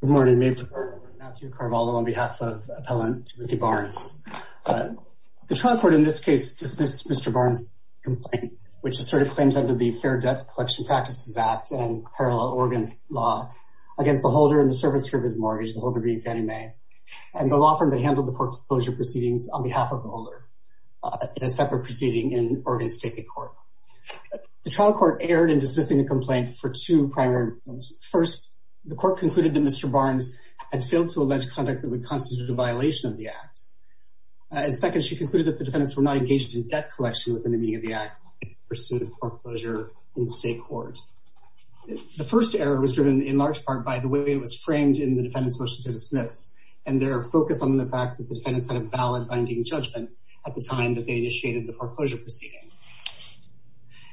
Good morning, Matthew Carvalho on behalf of appellant Timothy Barnes. The trial court in this case dismissed Mr. Barnes' complaint which asserted claims under the Fair Debt Collection Practices Act and parallel Oregon law against the holder in the service service mortgage, the holder being Fannie Mae, and the law firm that handled the foreclosure proceedings on behalf of the holder in a separate proceeding in Oregon State Court. The trial court erred in dismissing the two primary reasons. First, the court concluded that Mr. Barnes had failed to allege conduct that would constitute a violation of the Act. Second, she concluded that the defendants were not engaged in debt collection within the meaning of the Act in pursuit of foreclosure in state court. The first error was driven in large part by the way it was framed in the defendant's motion to dismiss and their focus on the fact that the defendants had a valid binding judgment at the time that they initiated the foreclosure proceeding.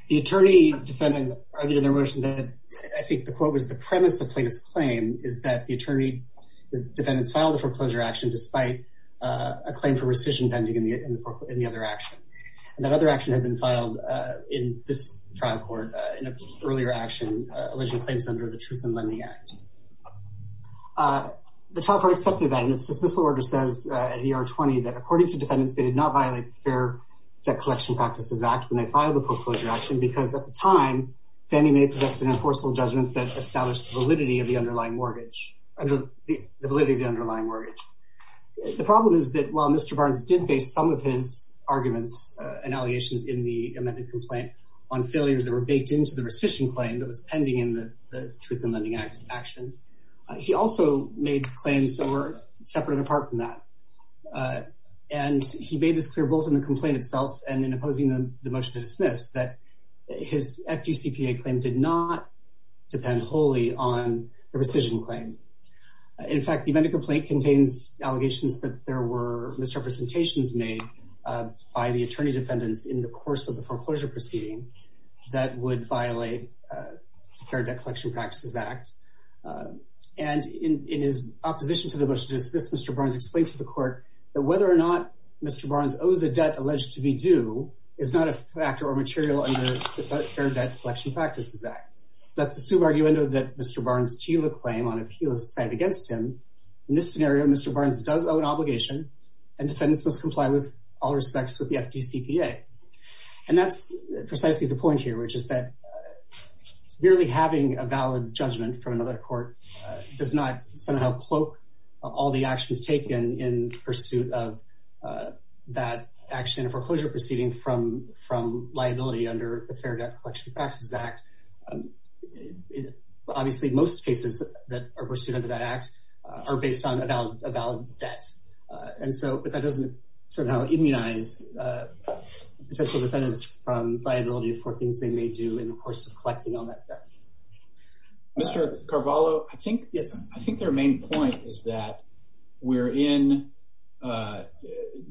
The attorney defendants argued in their motion that I think the quote was the premise of plaintiff's claim is that the attorney defendants filed a foreclosure action despite a claim for rescission pending in the other action. That other action had been filed in this trial court in an earlier action alleging claims under the Truth in Lending Act. The trial court accepted that and its dismissal order says at ER 20 that according to defendants they did not violate the Fair Debt At the time, Fannie Mae possessed an enforceable judgment that established validity of the underlying mortgage. The validity of the underlying mortgage. The problem is that while Mr. Barnes did base some of his arguments and allegations in the amended complaint on failures that were baked into the rescission claim that was pending in the Truth in Lending Act action, he also made claims that were separate and apart from that. And he made this clear both in the complaint itself and in opposing the motion to dismiss that his FDCPA claim did not depend wholly on the rescission claim. In fact, the amended complaint contains allegations that there were misrepresentations made by the attorney defendants in the course of the foreclosure proceeding that would violate Fair Debt Collection Practices Act. And in his opposition to the motion to dismiss, Mr. Barnes explained to the actor or material under the Fair Debt Collection Practices Act. That's the sub-argument of that Mr. Barnes to the claim on appeal side against him. In this scenario, Mr. Barnes does owe an obligation and defendants must comply with all respects with the FDCPA. And that's precisely the point here, which is that merely having a valid judgment from another court does not somehow cloak all the actions taken in pursuit of that action in a foreclosure proceeding from liability under the Fair Debt Collection Practices Act. Obviously, most cases that are pursued under that act are based on a valid debt. And so, but that doesn't somehow immunize potential defendants from liability for things they may do in the course of collecting on that debt. Mr. Carvalho, I think their main point is that we're in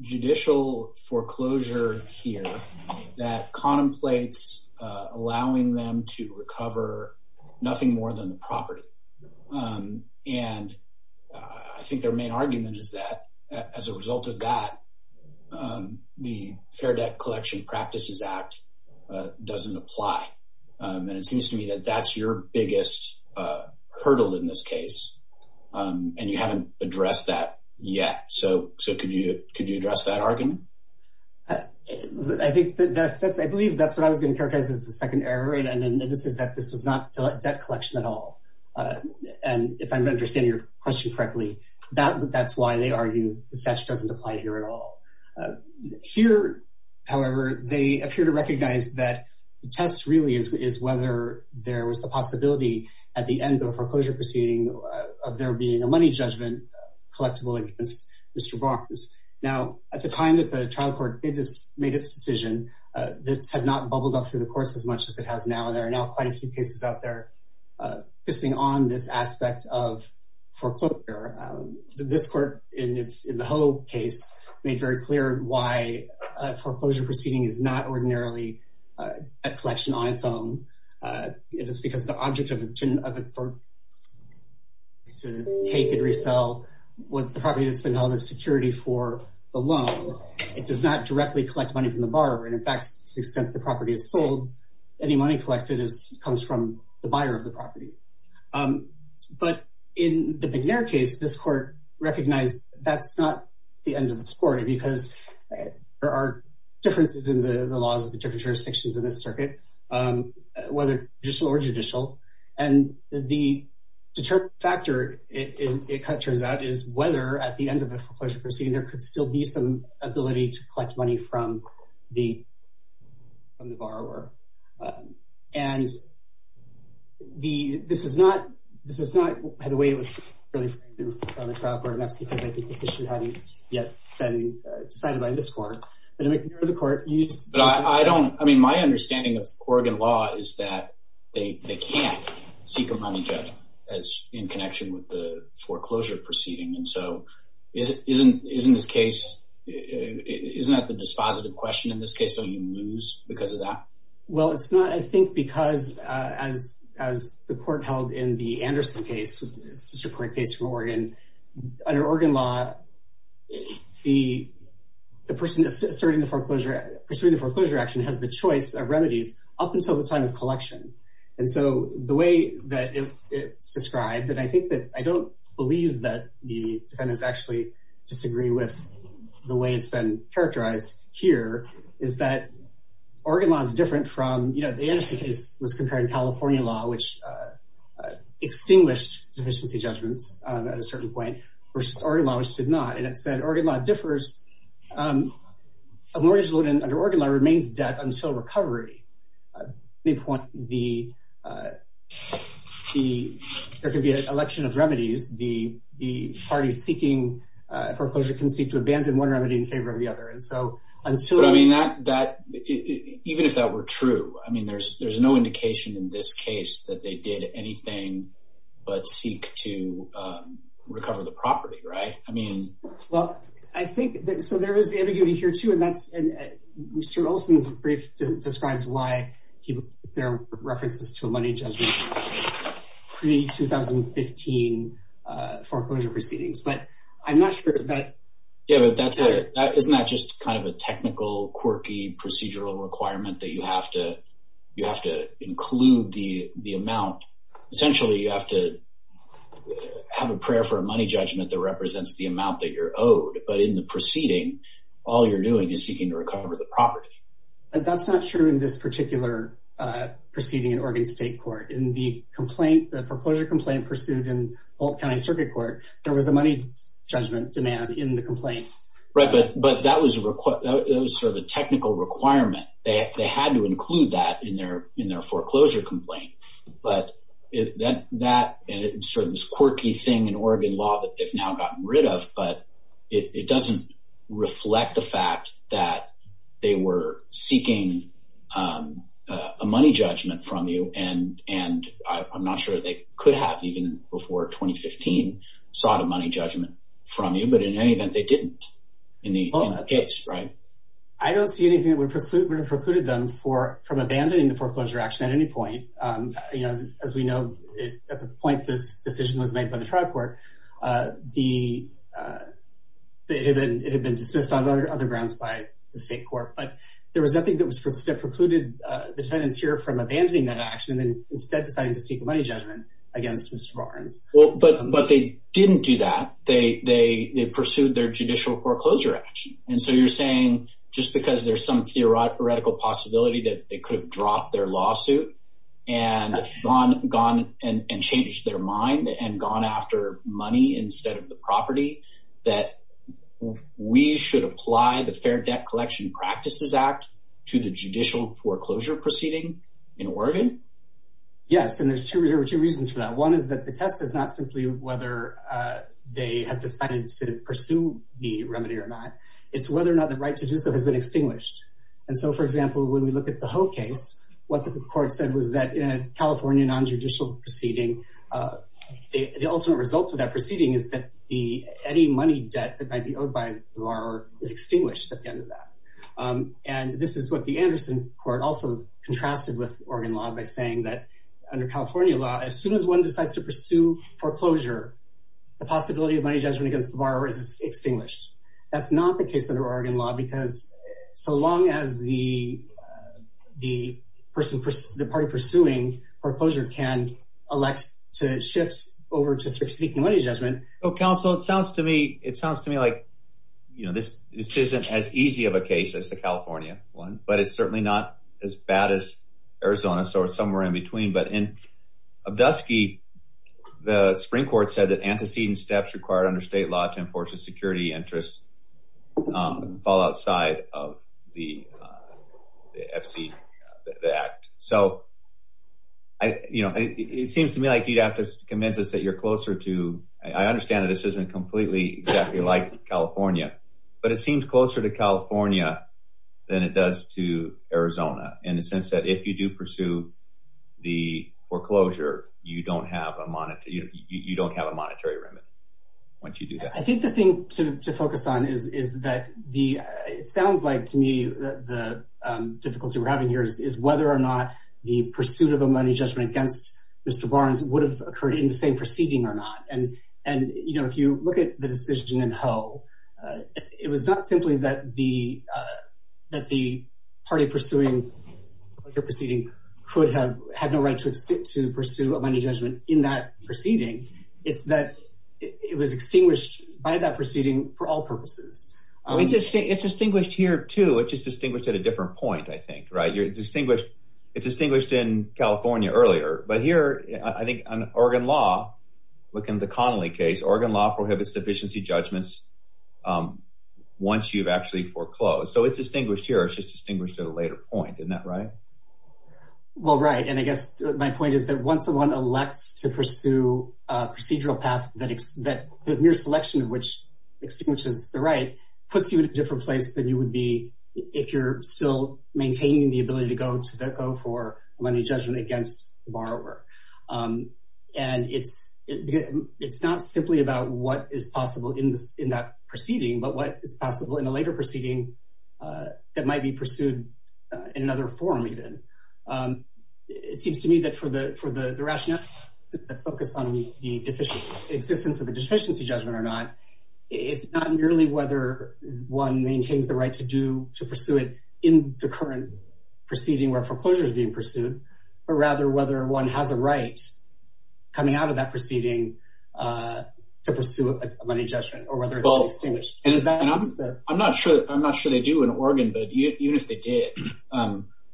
judicial foreclosure here that contemplates allowing them to recover nothing more than the property. And I think their main argument is that as a result of that, the Fair Debt Collection Practices Act doesn't apply. And it seems to me that that's your biggest hurdle in this case and you haven't addressed that yet. So, could you address that argument? I believe that's what I was going to characterize as the second error, and this is that this was not debt collection at all. And if I understand your question correctly, that's why they argue the statute doesn't apply here at all. Here, however, they appear to recognize that the test really is whether there was the possibility at the end of a foreclosure proceeding of there being a money judgment collectible against Mr. Barnes. Now, at the time that the trial court made this decision, this had not bubbled up through the courts as much as it has now. There are now quite a few cases out there pissing on this aspect of foreclosure. This court in the Hullo case made very clear why a foreclosure proceeding is not ordinarily a collection on its own. It is because the object of it to take and property that's been held as security for the loan, it does not directly collect money from the borrower. And in fact, to the extent the property is sold, any money collected comes from the buyer of the property. But in the McNair case, this court recognized that's not the end of the story because there are differences in the laws of the jurisdictions in this circuit, whether judicial or judicial. And the determining factor, it kind of turns out, is whether at the end of the foreclosure proceeding, there could still be some ability to collect money from the borrower. And this is not the way it was really framed in the trial court, and that's because I think this issue hadn't yet been decided by this court. But in the McNair court, you just... But I don't, I mean, my understanding of Oregon law is that they can't seek a money judgment as in a foreclosure proceeding. And so, isn't this case, isn't that the dispositive question in this case? Don't you lose because of that? Well, it's not, I think, because as the court held in the Anderson case, which is a separate case from Oregon, under Oregon law, the person asserting the foreclosure, pursuing the foreclosure action has the choice of remedies up until the time of collection. And so, the way that it's described, and I think that, I don't believe that the defendants actually disagree with the way it's been characterized here, is that Oregon law is different from, you know, the Anderson case was comparing California law, which extinguished deficiency judgments at a certain point, versus Oregon law, which did not. And it said, Oregon law differs. A mortgage loan under Oregon law remains debt until recovery. At any point, there could be an election of remedies. The party seeking foreclosure can seek to abandon one remedy in favor of the other. And so, until... But I mean, even if that were true, I mean, there's no indication in this case that they did anything but seek to recover the property, right? I mean... Well, I think that, so there is ambiguity here too, and that's, and Mr. Olson's brief describes why there are references to a money judgment pre-2015 foreclosure proceedings, but I'm not sure that... Yeah, but that's a, isn't that just kind of a technical, quirky, procedural requirement that you have to, you have to include the amount. Potentially, you have to have a prayer for a owed, but in the proceeding, all you're doing is seeking to recover the property. But that's not true in this particular proceeding in Oregon State Court. In the complaint, the foreclosure complaint pursued in Boalt County Circuit Court, there was a money judgment demand in the complaint. Right, but that was sort of a technical requirement. They had to include that in their foreclosure complaint, but that, and it's sort of this quirky thing in Oregon law that they've now gotten rid of, but it doesn't reflect the fact that they were seeking a money judgment from you, and I'm not sure they could have, even before 2015, sought a money judgment from you, but in any event, they didn't in the case, right? I don't see anything that would have precluded them for, from abandoning the foreclosure action at any point. You know, as we know, at the point this it had been dismissed on other grounds by the state court, but there was nothing that was precluded the defendants here from abandoning that action and instead deciding to seek a money judgment against Mr. Barnes. Well, but they didn't do that. They pursued their judicial foreclosure action, and so you're saying just because there's some theoretical possibility that they could have dropped their lawsuit and gone and changed their mind and gone after money instead of the property, that we should apply the Fair Debt Collection Practices Act to the judicial foreclosure proceeding in Oregon? Yes, and there's two reasons for that. One is that the test is not simply whether they have decided to pursue the remedy or not. It's whether or not the right to do so has been extinguished, and so, for example, when we look at the Ho case, what the court said was that in a California non-judicial proceeding, the ultimate result of that proceeding is that any money debt that might be owed by the borrower is extinguished at the end of that, and this is what the Anderson court also contrasted with Oregon law by saying that under California law, as soon as one decides to pursue foreclosure, the possibility of money judgment against the borrower is extinguished. That's not the case under Oregon law because so long as the party pursuing foreclosure can elect to shift over to seeking money judgment. Well, counsel, it sounds to me like, you know, this isn't as easy of a case as the California one, but it's certainly not as bad as Arizona, so it's somewhere in between, but in Abdusky, the Supreme Court said that antecedent steps required under state law to enforce a of the FC, the act, so I, you know, it seems to me like you'd have to convince us that you're closer to, I understand that this isn't completely exactly like California, but it seems closer to California than it does to Arizona in the sense that if you do pursue the foreclosure, you don't have a monetary, you know, you don't have a monetary remit once you do that. I think the thing to focus on is that the, it sounds like to me that the difficulty we're having here is whether or not the pursuit of a money judgment against Mr. Barnes would have occurred in the same proceeding or not. And, you know, if you look at the decision in Ho, it was not simply that the party pursuing the proceeding could have had no right to pursue a money judgment in that proceeding for all purposes. It's distinguished here too, it's just distinguished at a different point, I think, right? You're distinguished, it's distinguished in California earlier, but here I think on Oregon law, look in the Connolly case, Oregon law prohibits deficiency judgments once you've actually foreclosed. So it's distinguished here, it's just distinguished at a later point, isn't that right? Well, right, and I guess my point is that once someone elects to pursue a procedural path that the mere selection of which distinguishes the right puts you in a different place than you would be if you're still maintaining the ability to go for a money judgment against the borrower. And it's not simply about what is possible in that proceeding, but what is possible in a later proceeding that might be pursued in another form even. It seems to me that for the rationale that focused on the existence of a deficiency judgment or not, it's not merely whether one maintains the right to pursue it in the current proceeding where foreclosure is being pursued, but rather whether one has a right coming out of that proceeding to pursue a money judgment or whether it's distinguished. And I'm not sure they do in Oregon, but even if they did,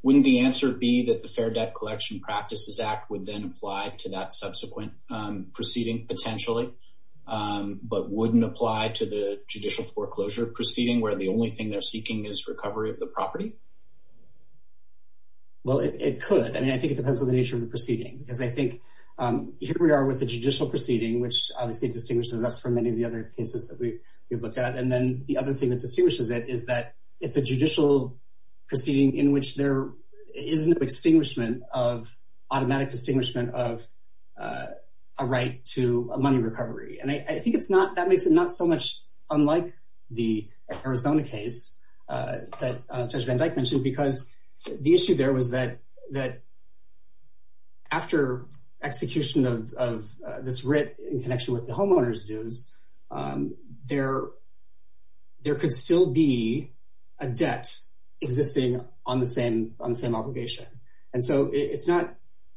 wouldn't the answer be that the Fair Debt Collection Practices Act would then apply to that subsequent proceeding potentially, but wouldn't apply to the judicial foreclosure proceeding where the only thing they're seeking is recovery of the property? Well, it could. I mean, I think it depends on the nature of the proceeding because I think here we are with the judicial proceeding, which obviously distinguishes us from many of the other cases that we've looked at. And then the other thing that distinguishes it is that it's a judicial proceeding in which there is no automatic distinguishment of a right to a money recovery. And I think that makes it not so much unlike the Arizona case that Judge Van Dyke mentioned because the issue there was that after execution of this homeowner's dues, there could still be a debt existing on the same obligation. And so it's not,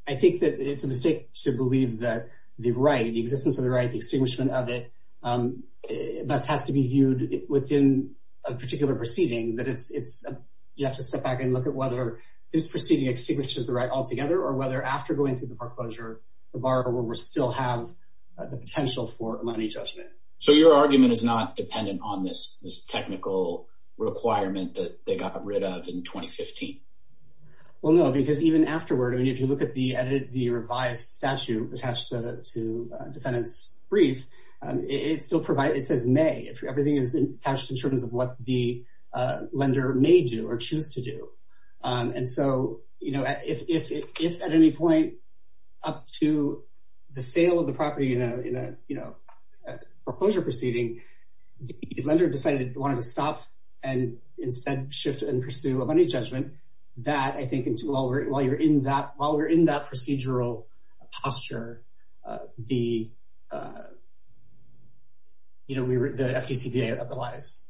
I think that it's a mistake to believe that the right, the existence of the right, the extinguishment of it, thus has to be viewed within a particular proceeding. You have to step back and look at whether this proceeding extinguishes the right altogether or whether after going through the foreclosure, the borrower will still have the potential for money judgment. So your argument is not dependent on this technical requirement that they got rid of in 2015? Well, no, because even afterward, I mean, if you look at the revised statute attached to the defendant's brief, it says may. Everything is attached in terms of what the lender may do or choose to do. And so if at any point up to the sale of the property in a foreclosure proceeding, the lender decided they wanted to stop and instead shift and pursue a money judgment, that I think while we're in that procedural posture, the FDCPA applies.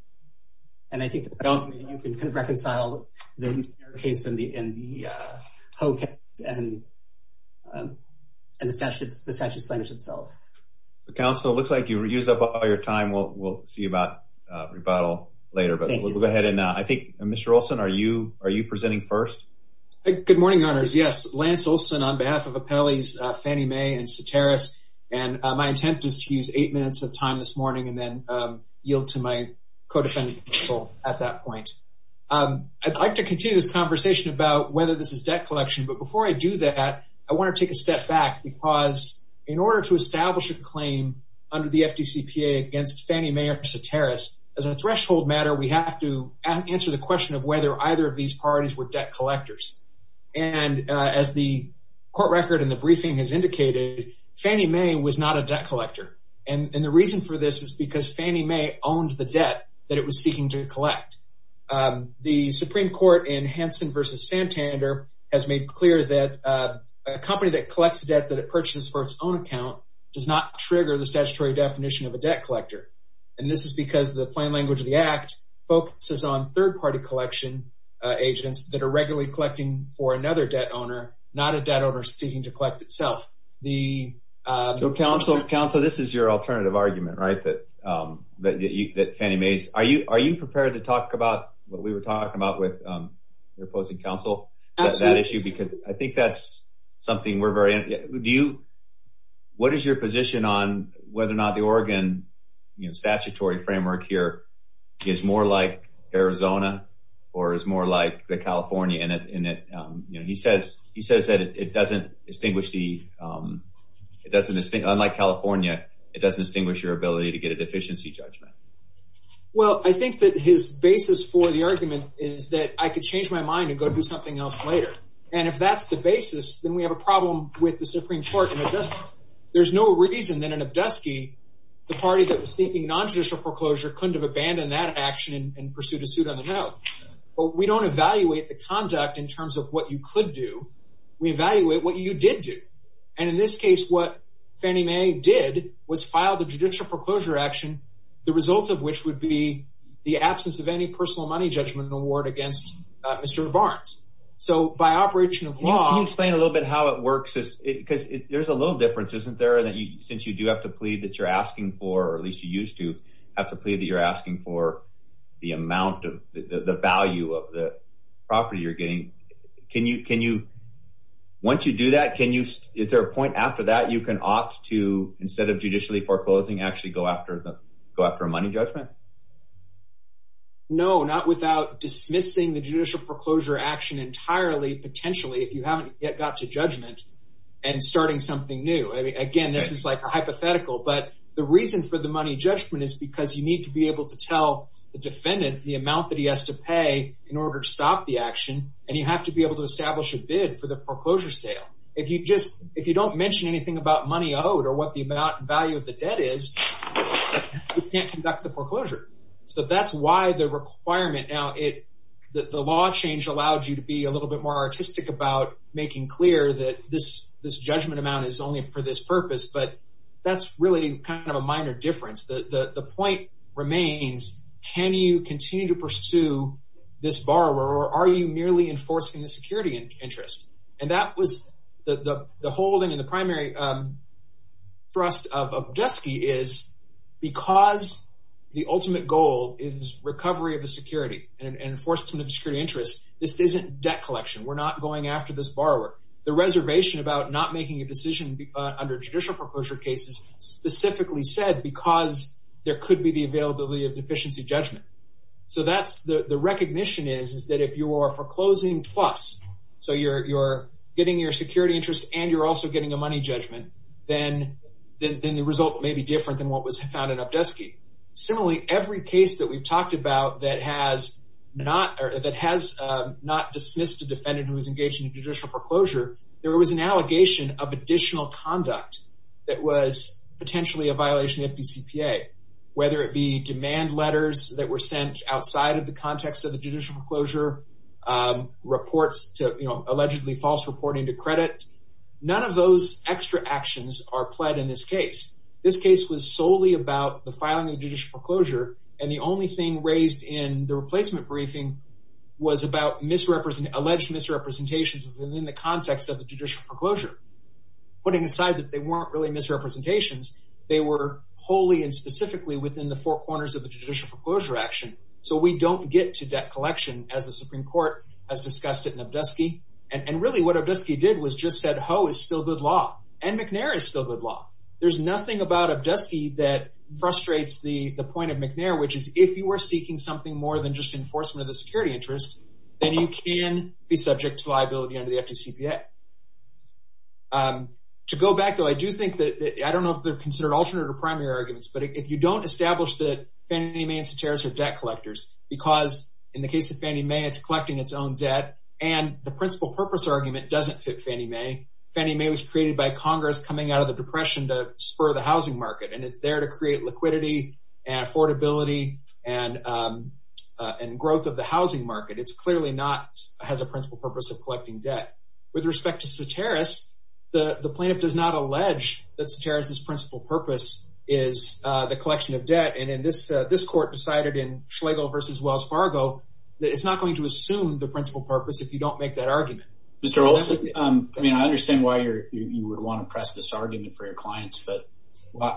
And I think you can kind of reconcile the case in the statute's language itself. Counsel, it looks like you reused up all your time. We'll see about rebuttal later, but we'll go ahead. And I think, Mr. Olson, are you presenting first? Good morning, Your Honors. Yes, Lance Olson on behalf of Appellees Fannie Mae and Ceteris. And my intent is to use eight minutes of time this morning and then yield to my co-defendant counsel at that point. I'd like to continue this conversation about whether this is debt collection. But before I do that, I want to take a step back because in order to establish a claim under the FDCPA against Fannie Mae or Ceteris, as a threshold matter, we have to answer the question of whether either of these parties were debt collectors. And as the court record in the briefing has indicated, Fannie Mae was not a debt collector. And the reason for this is because Fannie Mae owned the debt that it was seeking to collect. The Supreme Court in Hansen v. Santander has made clear that a company that collects debt that it purchases for its own account does not trigger the statutory definition of a debt collector. And this is because the plain language of the Act focuses on third-party collection agents that are regularly collecting for another debt owner, not a debt owner seeking to collect itself. So, counsel, this is your alternative argument, right, that Fannie Mae's—are you prepared to talk about what we were talking about with your opposing counsel about that issue? Absolutely. Because I think that's something we're very—what is your position on whether or not the Oregon statutory framework here is more like Arizona or is more like the California in it? He says that it doesn't distinguish the—unlike California, it doesn't distinguish your ability to get a deficiency judgment. Well, I think that his basis for the argument is that I could change my mind and go do something else later. And if that's the basis, then we have a problem with the Supreme Court. And we don't evaluate the conduct in terms of what you could do. We evaluate what you did do. And in this case, what Fannie Mae did was file the judicial foreclosure action, the result of which would be the absence of any personal money judgment award against Mr. Barnes. So, by operation of law— Can you explain a little bit how it works? Because there's a little difference, isn't there, since you do have to plead that you're asking for, or at least you used to have to plead that you're asking for the amount of—the value of the property you're getting. Can you—once you do that, can you—is there a point after that you can opt to, instead of judicially foreclosing, actually go after a money judgment? No, not without dismissing the judicial foreclosure action entirely, potentially, if you haven't yet got to judgment, and starting something new. Again, this is like a hypothetical, but the reason for the money judgment is because you need to be able to tell the defendant the amount that he has to pay in order to stop the action, and you have to be able to establish a bid for the foreclosure sale. If you just—if you don't mention anything about money owed or what the amount and value of the debt is, you can't conduct the foreclosure. So that's why the requirement—now, the law change allowed you to be a little bit more artistic about making clear that this judgment amount is only for this purpose, but that's really kind of a minor difference. The point remains, can you continue to pursue this borrower, or are you merely enforcing the security interest? And that was—the holding and the primary thrust of Objuski is because the ultimate goal is recovery of the security and enforcement of the security interest. This isn't debt collection. We're not going after this borrower. The reservation about not making a decision under judicial foreclosure case is specifically said because there could be the availability of deficiency judgment. So that's—the recognition is that if you are foreclosing plus, so you're getting your security interest and you're also getting a money judgment, then the result may be different than what was found in Objuski. Similarly, every case that we've talked about that has not—that has not dismissed a defendant who is engaged in judicial foreclosure, there was an allegation of additional conduct that was potentially a violation of the FDCPA, whether it be demand letters that were sent outside of the context of the judicial foreclosure, reports to—allegedly false reporting to credit. None of those extra actions are pled in this case. This case was solely about the filing of judicial foreclosure, and the only thing raised in the replacement briefing was about misrepresent—alleged misrepresentations within the context of the judicial foreclosure, putting aside that they weren't really misrepresentations. They were wholly and specifically within the four corners of the judicial foreclosure action, so we don't get to debt collection as the Supreme Court has discussed it in Objuski. And really, what Objuski did was just said, ho, it's still good law, and McNair is still good law. There's nothing about Objuski that frustrates the—the point of McNair, which is if you were seeking something more than just enforcement of the security interest, then you can be subject to liability under the FDCPA. To go back, though, I do think that—I don't know if they're considered alternate or primary arguments, but if you don't establish that Fannie Mae and Ceteris are debt collectors, because in the case of Fannie Mae, it's collecting its own debt, and the principal purpose argument doesn't fit Fannie Mae. Fannie Mae was created by Congress coming out of the Depression to spur the housing market, and it's there to create liquidity and affordability and growth of the housing market. It's clearly not—has a principal purpose of collecting debt. With respect to Ceteris, the plaintiff does not allege that Ceteris' principal purpose is the collection of debt, and in this—this court decided in Schlegel v. Wells Fargo that it's not going to assume the principal purpose if you don't make that argument. Mr. Olson, I mean, I understand why you're—you would want to press this argument for your clients, but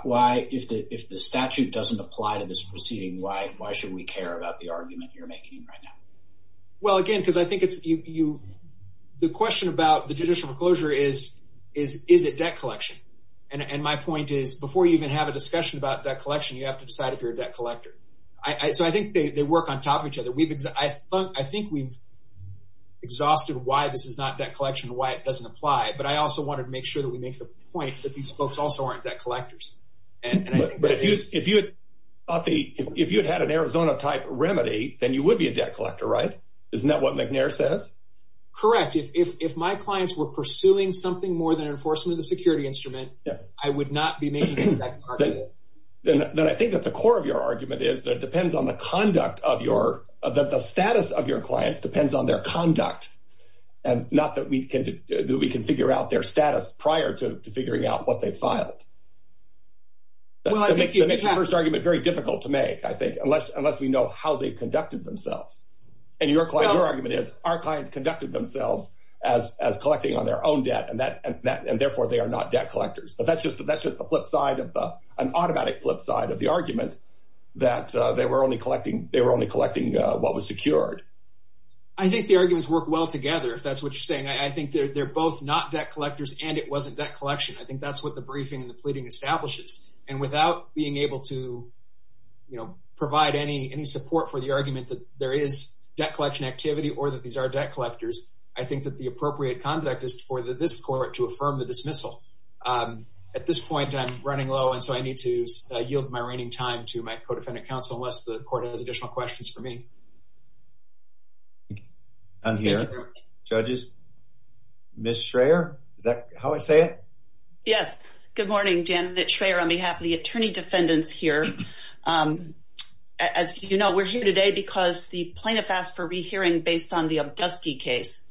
why—if the statute doesn't apply to this proceeding, why should we care about the argument you're making right now? Well, again, because I think it's—you—the question about the judicial foreclosure is, is it debt collection? And my point is, before you even have a discussion about debt collection, you have to decide if you're a debt collector. So I think they work on top of each other. We've—I think we've exhausted why this is not debt collection and why it doesn't apply, but I also wanted to make sure that we make the point that these folks also aren't debt collectors. And I think that is— But if you had thought the—if you had had an Arizona-type remedy, then you would be a debt collector, right? Isn't that what McNair says? Correct. If my clients were pursuing something more than enforcement of the security instrument, I would not be making that argument. Then I think that the core of your that the status of your clients depends on their conduct, and not that we can do—we can figure out their status prior to figuring out what they filed. Well, I think you could have— That makes the first argument very difficult to make, I think, unless we know how they conducted themselves. And your client—your argument is, our clients conducted themselves as collecting on their own debt, and that—and therefore they are not debt collectors. But that's just a flip side of the—an what was secured. I think the arguments work well together, if that's what you're saying. I think they're both not debt collectors, and it wasn't debt collection. I think that's what the briefing and the pleading establishes. And without being able to, you know, provide any support for the argument that there is debt collection activity or that these are debt collectors, I think that the appropriate conduct is for this court to affirm the dismissal. At this point, I'm running low, and so I need to yield my reigning time to my co-defendant counsel, unless the court has additional questions for me. I'm here. Judges? Ms. Schreyer? Is that how I say it? Yes. Good morning. Janet Schreyer on behalf of the attorney defendants here. As you know, we're here today because the plaintiff asked for rehearing based on the Obdusky case.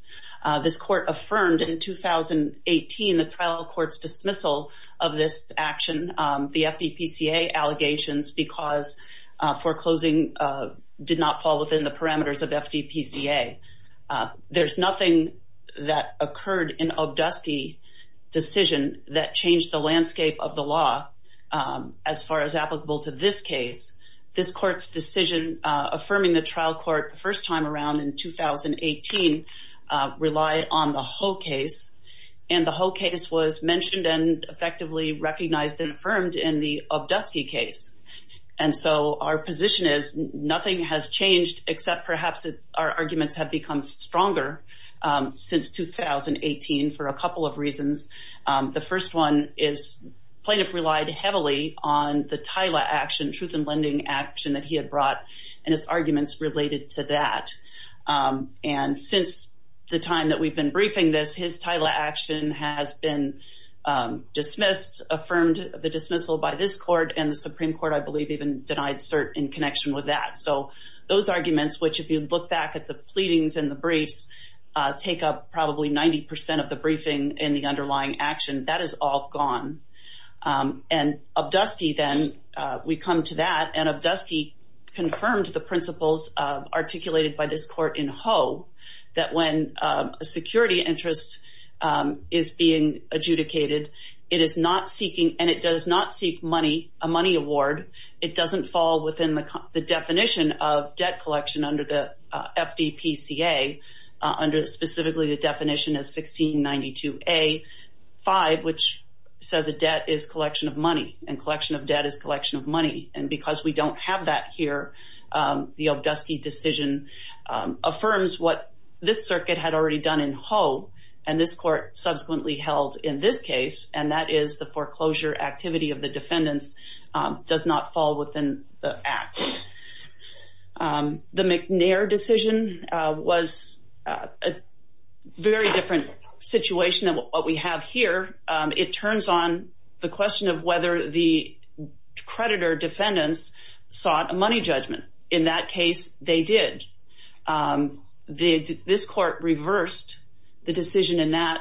This court affirmed in 2018 the trial court's dismissal of this action, the FDPCA allegations, because foreclosing did not fall within the parameters of FDPCA. There's nothing that occurred in Obdusky's decision that changed the landscape of the law as far as applicable to this case. This court's decision affirming the trial court the first time around in 2018 relied on the Ho case, and the Ho case was mentioned and effectively recognized and affirmed in the Obdusky case. And so our position is nothing has changed except perhaps our arguments have become stronger since 2018 for a couple of reasons. The first one is plaintiff relied heavily on the TILA action, truth in lending action, that he had brought and his arguments related to that. And since the time that we've been briefing this, his TILA action has been dismissed, affirmed the dismissal by this court, and the Supreme Court, I believe, even denied cert in connection with that. So those arguments, which if you look back at the pleadings and the briefs, take up probably 90 percent of the briefing in the underlying action, that is all gone. And Obdusky then, we come to that, and Obdusky confirmed the principles articulated by this court in Ho, that when a security interest is being adjudicated, it is not seeking, and it does not seek money, a money award, it doesn't fall within the definition of debt collection under the FDPCA, under specifically the definition of 1692A-5, which says a debt is collection of money, and collection of debt is collection of money. And Obdusky decision affirms what this circuit had already done in Ho, and this court subsequently held in this case, and that is the foreclosure activity of the defendants does not fall within the act. The McNair decision was a very different situation than what we have here. It turns on the question of whether the creditor defendants sought a money judgment. In that case, they did. This court reversed the decision in that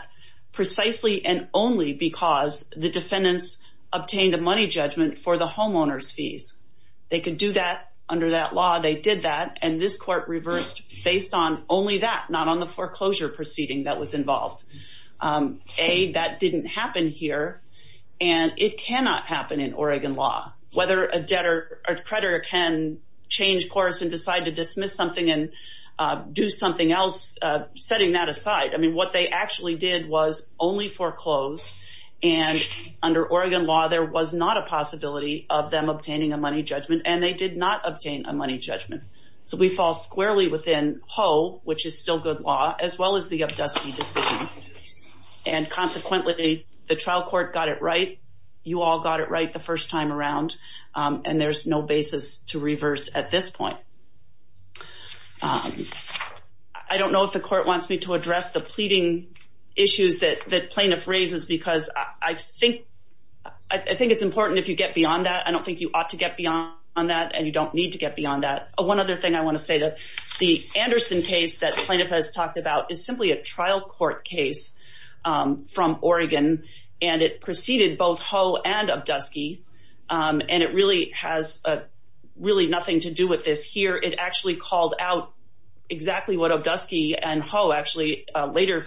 precisely and only because the defendants obtained a money judgment for the homeowner's fees. They could do that under that law, they did that, and this court reversed based on only that, not on the foreclosure proceeding that was involved. A, that didn't happen here, and it cannot happen in Oregon law, whether a debtor or creditor can change course and decide to dismiss something and do something else, setting that aside. I mean, what they actually did was only foreclose, and under Oregon law, there was not a possibility of them obtaining a money judgment, and they did not obtain a money judgment. So we fall squarely within Ho, which is still good as well as the Obdusky decision, and consequently, the trial court got it right. You all got it right the first time around, and there's no basis to reverse at this point. I don't know if the court wants me to address the pleading issues that plaintiff raises because I think it's important if you get beyond that. I don't think you ought to get beyond that, and you don't need to get beyond that. One other thing I want to say that the Anderson case that plaintiff has talked about is simply a trial court case from Oregon, and it preceded both Ho and Obdusky, and it really has really nothing to do with this here. It actually called out exactly what Obdusky and Ho actually later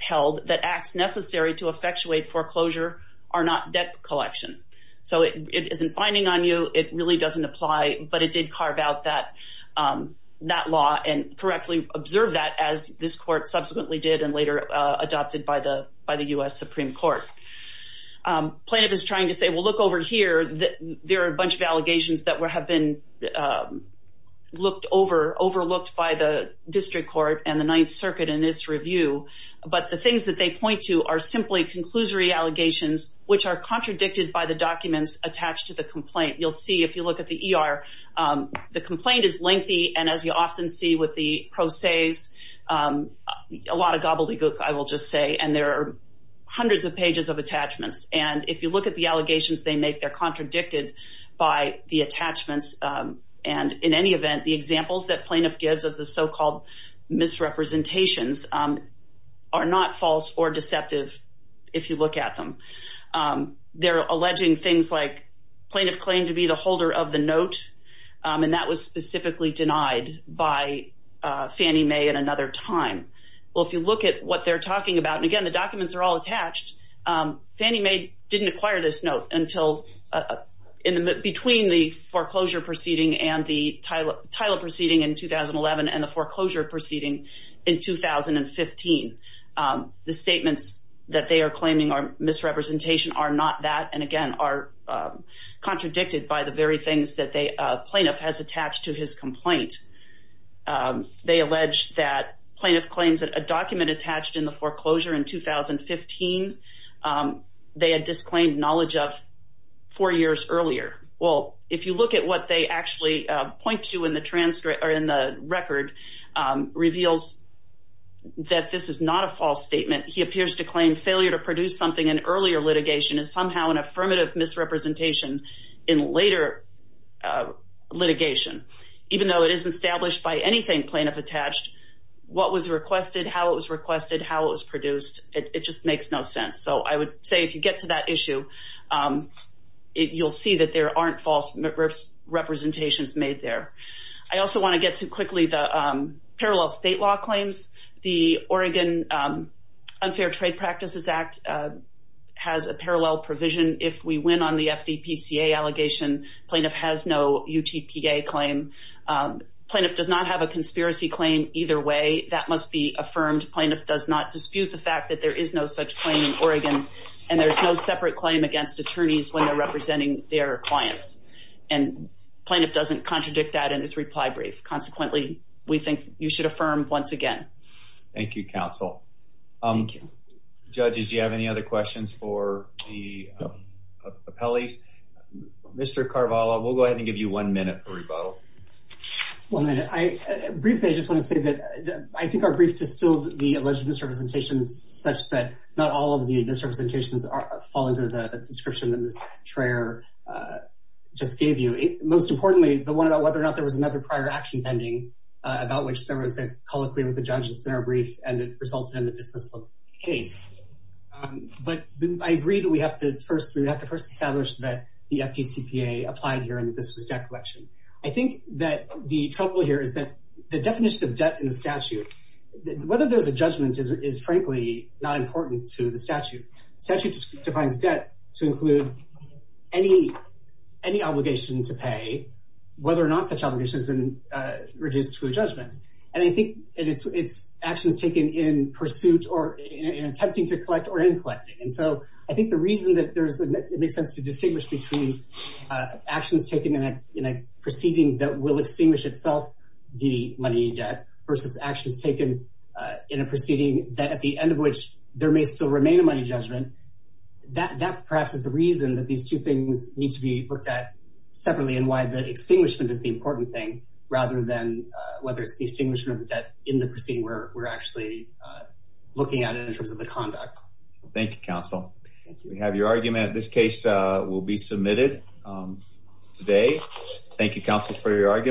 held, that acts necessary to effectuate foreclosure are not debt collection. So it isn't binding on you. It really doesn't apply, but it did carve out that law and correctly observe that as this court subsequently did and later adopted by the U.S. Supreme Court. Plaintiff is trying to say, well, look over here. There are a bunch of allegations that have been overlooked by the district court and the Ninth Circuit in its review, but the things that they point to are simply conclusory allegations which are contradicted by the documents attached to the complaint. You'll see if you look at the E.R., the complaint is lengthy, and as you often see with the pro se's, a lot of gobbledygook, I will just say, and there are hundreds of pages of attachments, and if you look at the allegations they make, they're contradicted by the attachments, and in any event, the examples that plaintiff gives of the so-called misrepresentations are not false or deceptive if you look at them. They're alleging things like plaintiff claimed to be the holder of the note, and that was specifically denied by Fannie Mae at another time. Well, if you look at what they're talking about, and again, the documents are all attached. Fannie Mae didn't acquire this note until between the foreclosure proceeding and the TILA proceeding in 2011 and the foreclosure proceeding in 2015. The statements that they are claiming are misrepresentation are not that, and again, are contradicted by the very things that the plaintiff has attached to his complaint. They allege that plaintiff claims that a document attached in the foreclosure in 2015 they had disclaimed knowledge of four point two in the transcript or in the record reveals that this is not a false statement. He appears to claim failure to produce something in earlier litigation is somehow an affirmative misrepresentation in later litigation. Even though it is established by anything plaintiff attached, what was requested, how it was requested, how it was produced, it just makes no sense. So, I would say if you get to that issue, you'll see that there aren't false representations made there. I also want to get to quickly the parallel state law claims. The Oregon Unfair Trade Practices Act has a parallel provision. If we win on the FDPCA allegation, plaintiff has no UTPA claim. Plaintiff does not have a conspiracy claim either way. That must be affirmed. Plaintiff does not and there's no separate claim against attorneys when they're representing their clients and plaintiff doesn't contradict that in his reply brief. Consequently, we think you should affirm once again. Thank you counsel. Judges, do you have any other questions for the appellees? Mr. Carvalho, we'll go ahead and give you one minute for rebuttal. One minute. Briefly, I just want to say that I think our brief distilled the alleged misrepresentations such that not all of the misrepresentations fall into the description that Ms. Traer just gave you. Most importantly, the one about whether or not there was another prior action pending about which there was a colloquy with the judge that's in our brief and it resulted in the dismissal of the case. But I agree that we have to first establish that the FDCPA applied here and that this was debt collection. I think that the trouble here is that the definition of debt in the statute, whether there's a judgment is frankly not important to the statute. Statute defines debt to include any obligation to pay whether or not such obligation has been reduced to a judgment. And I think it's actions taken in pursuit or in attempting to collect or in collecting. And so I think the reason that it makes sense to distinguish between actions taken in a proceeding that will extinguish itself the money debt versus actions taken in a proceeding that at the end of which there may still remain a money judgment, that perhaps is the reason that these two things need to be looked at separately and why the extinguishment is the important thing rather than whether it's the extinguishment of debt in the proceeding where we're actually looking at it in terms of the conduct. Thank you, counsel. We have your argument. This case will be submitted today. Thank you, counsel, for your argument.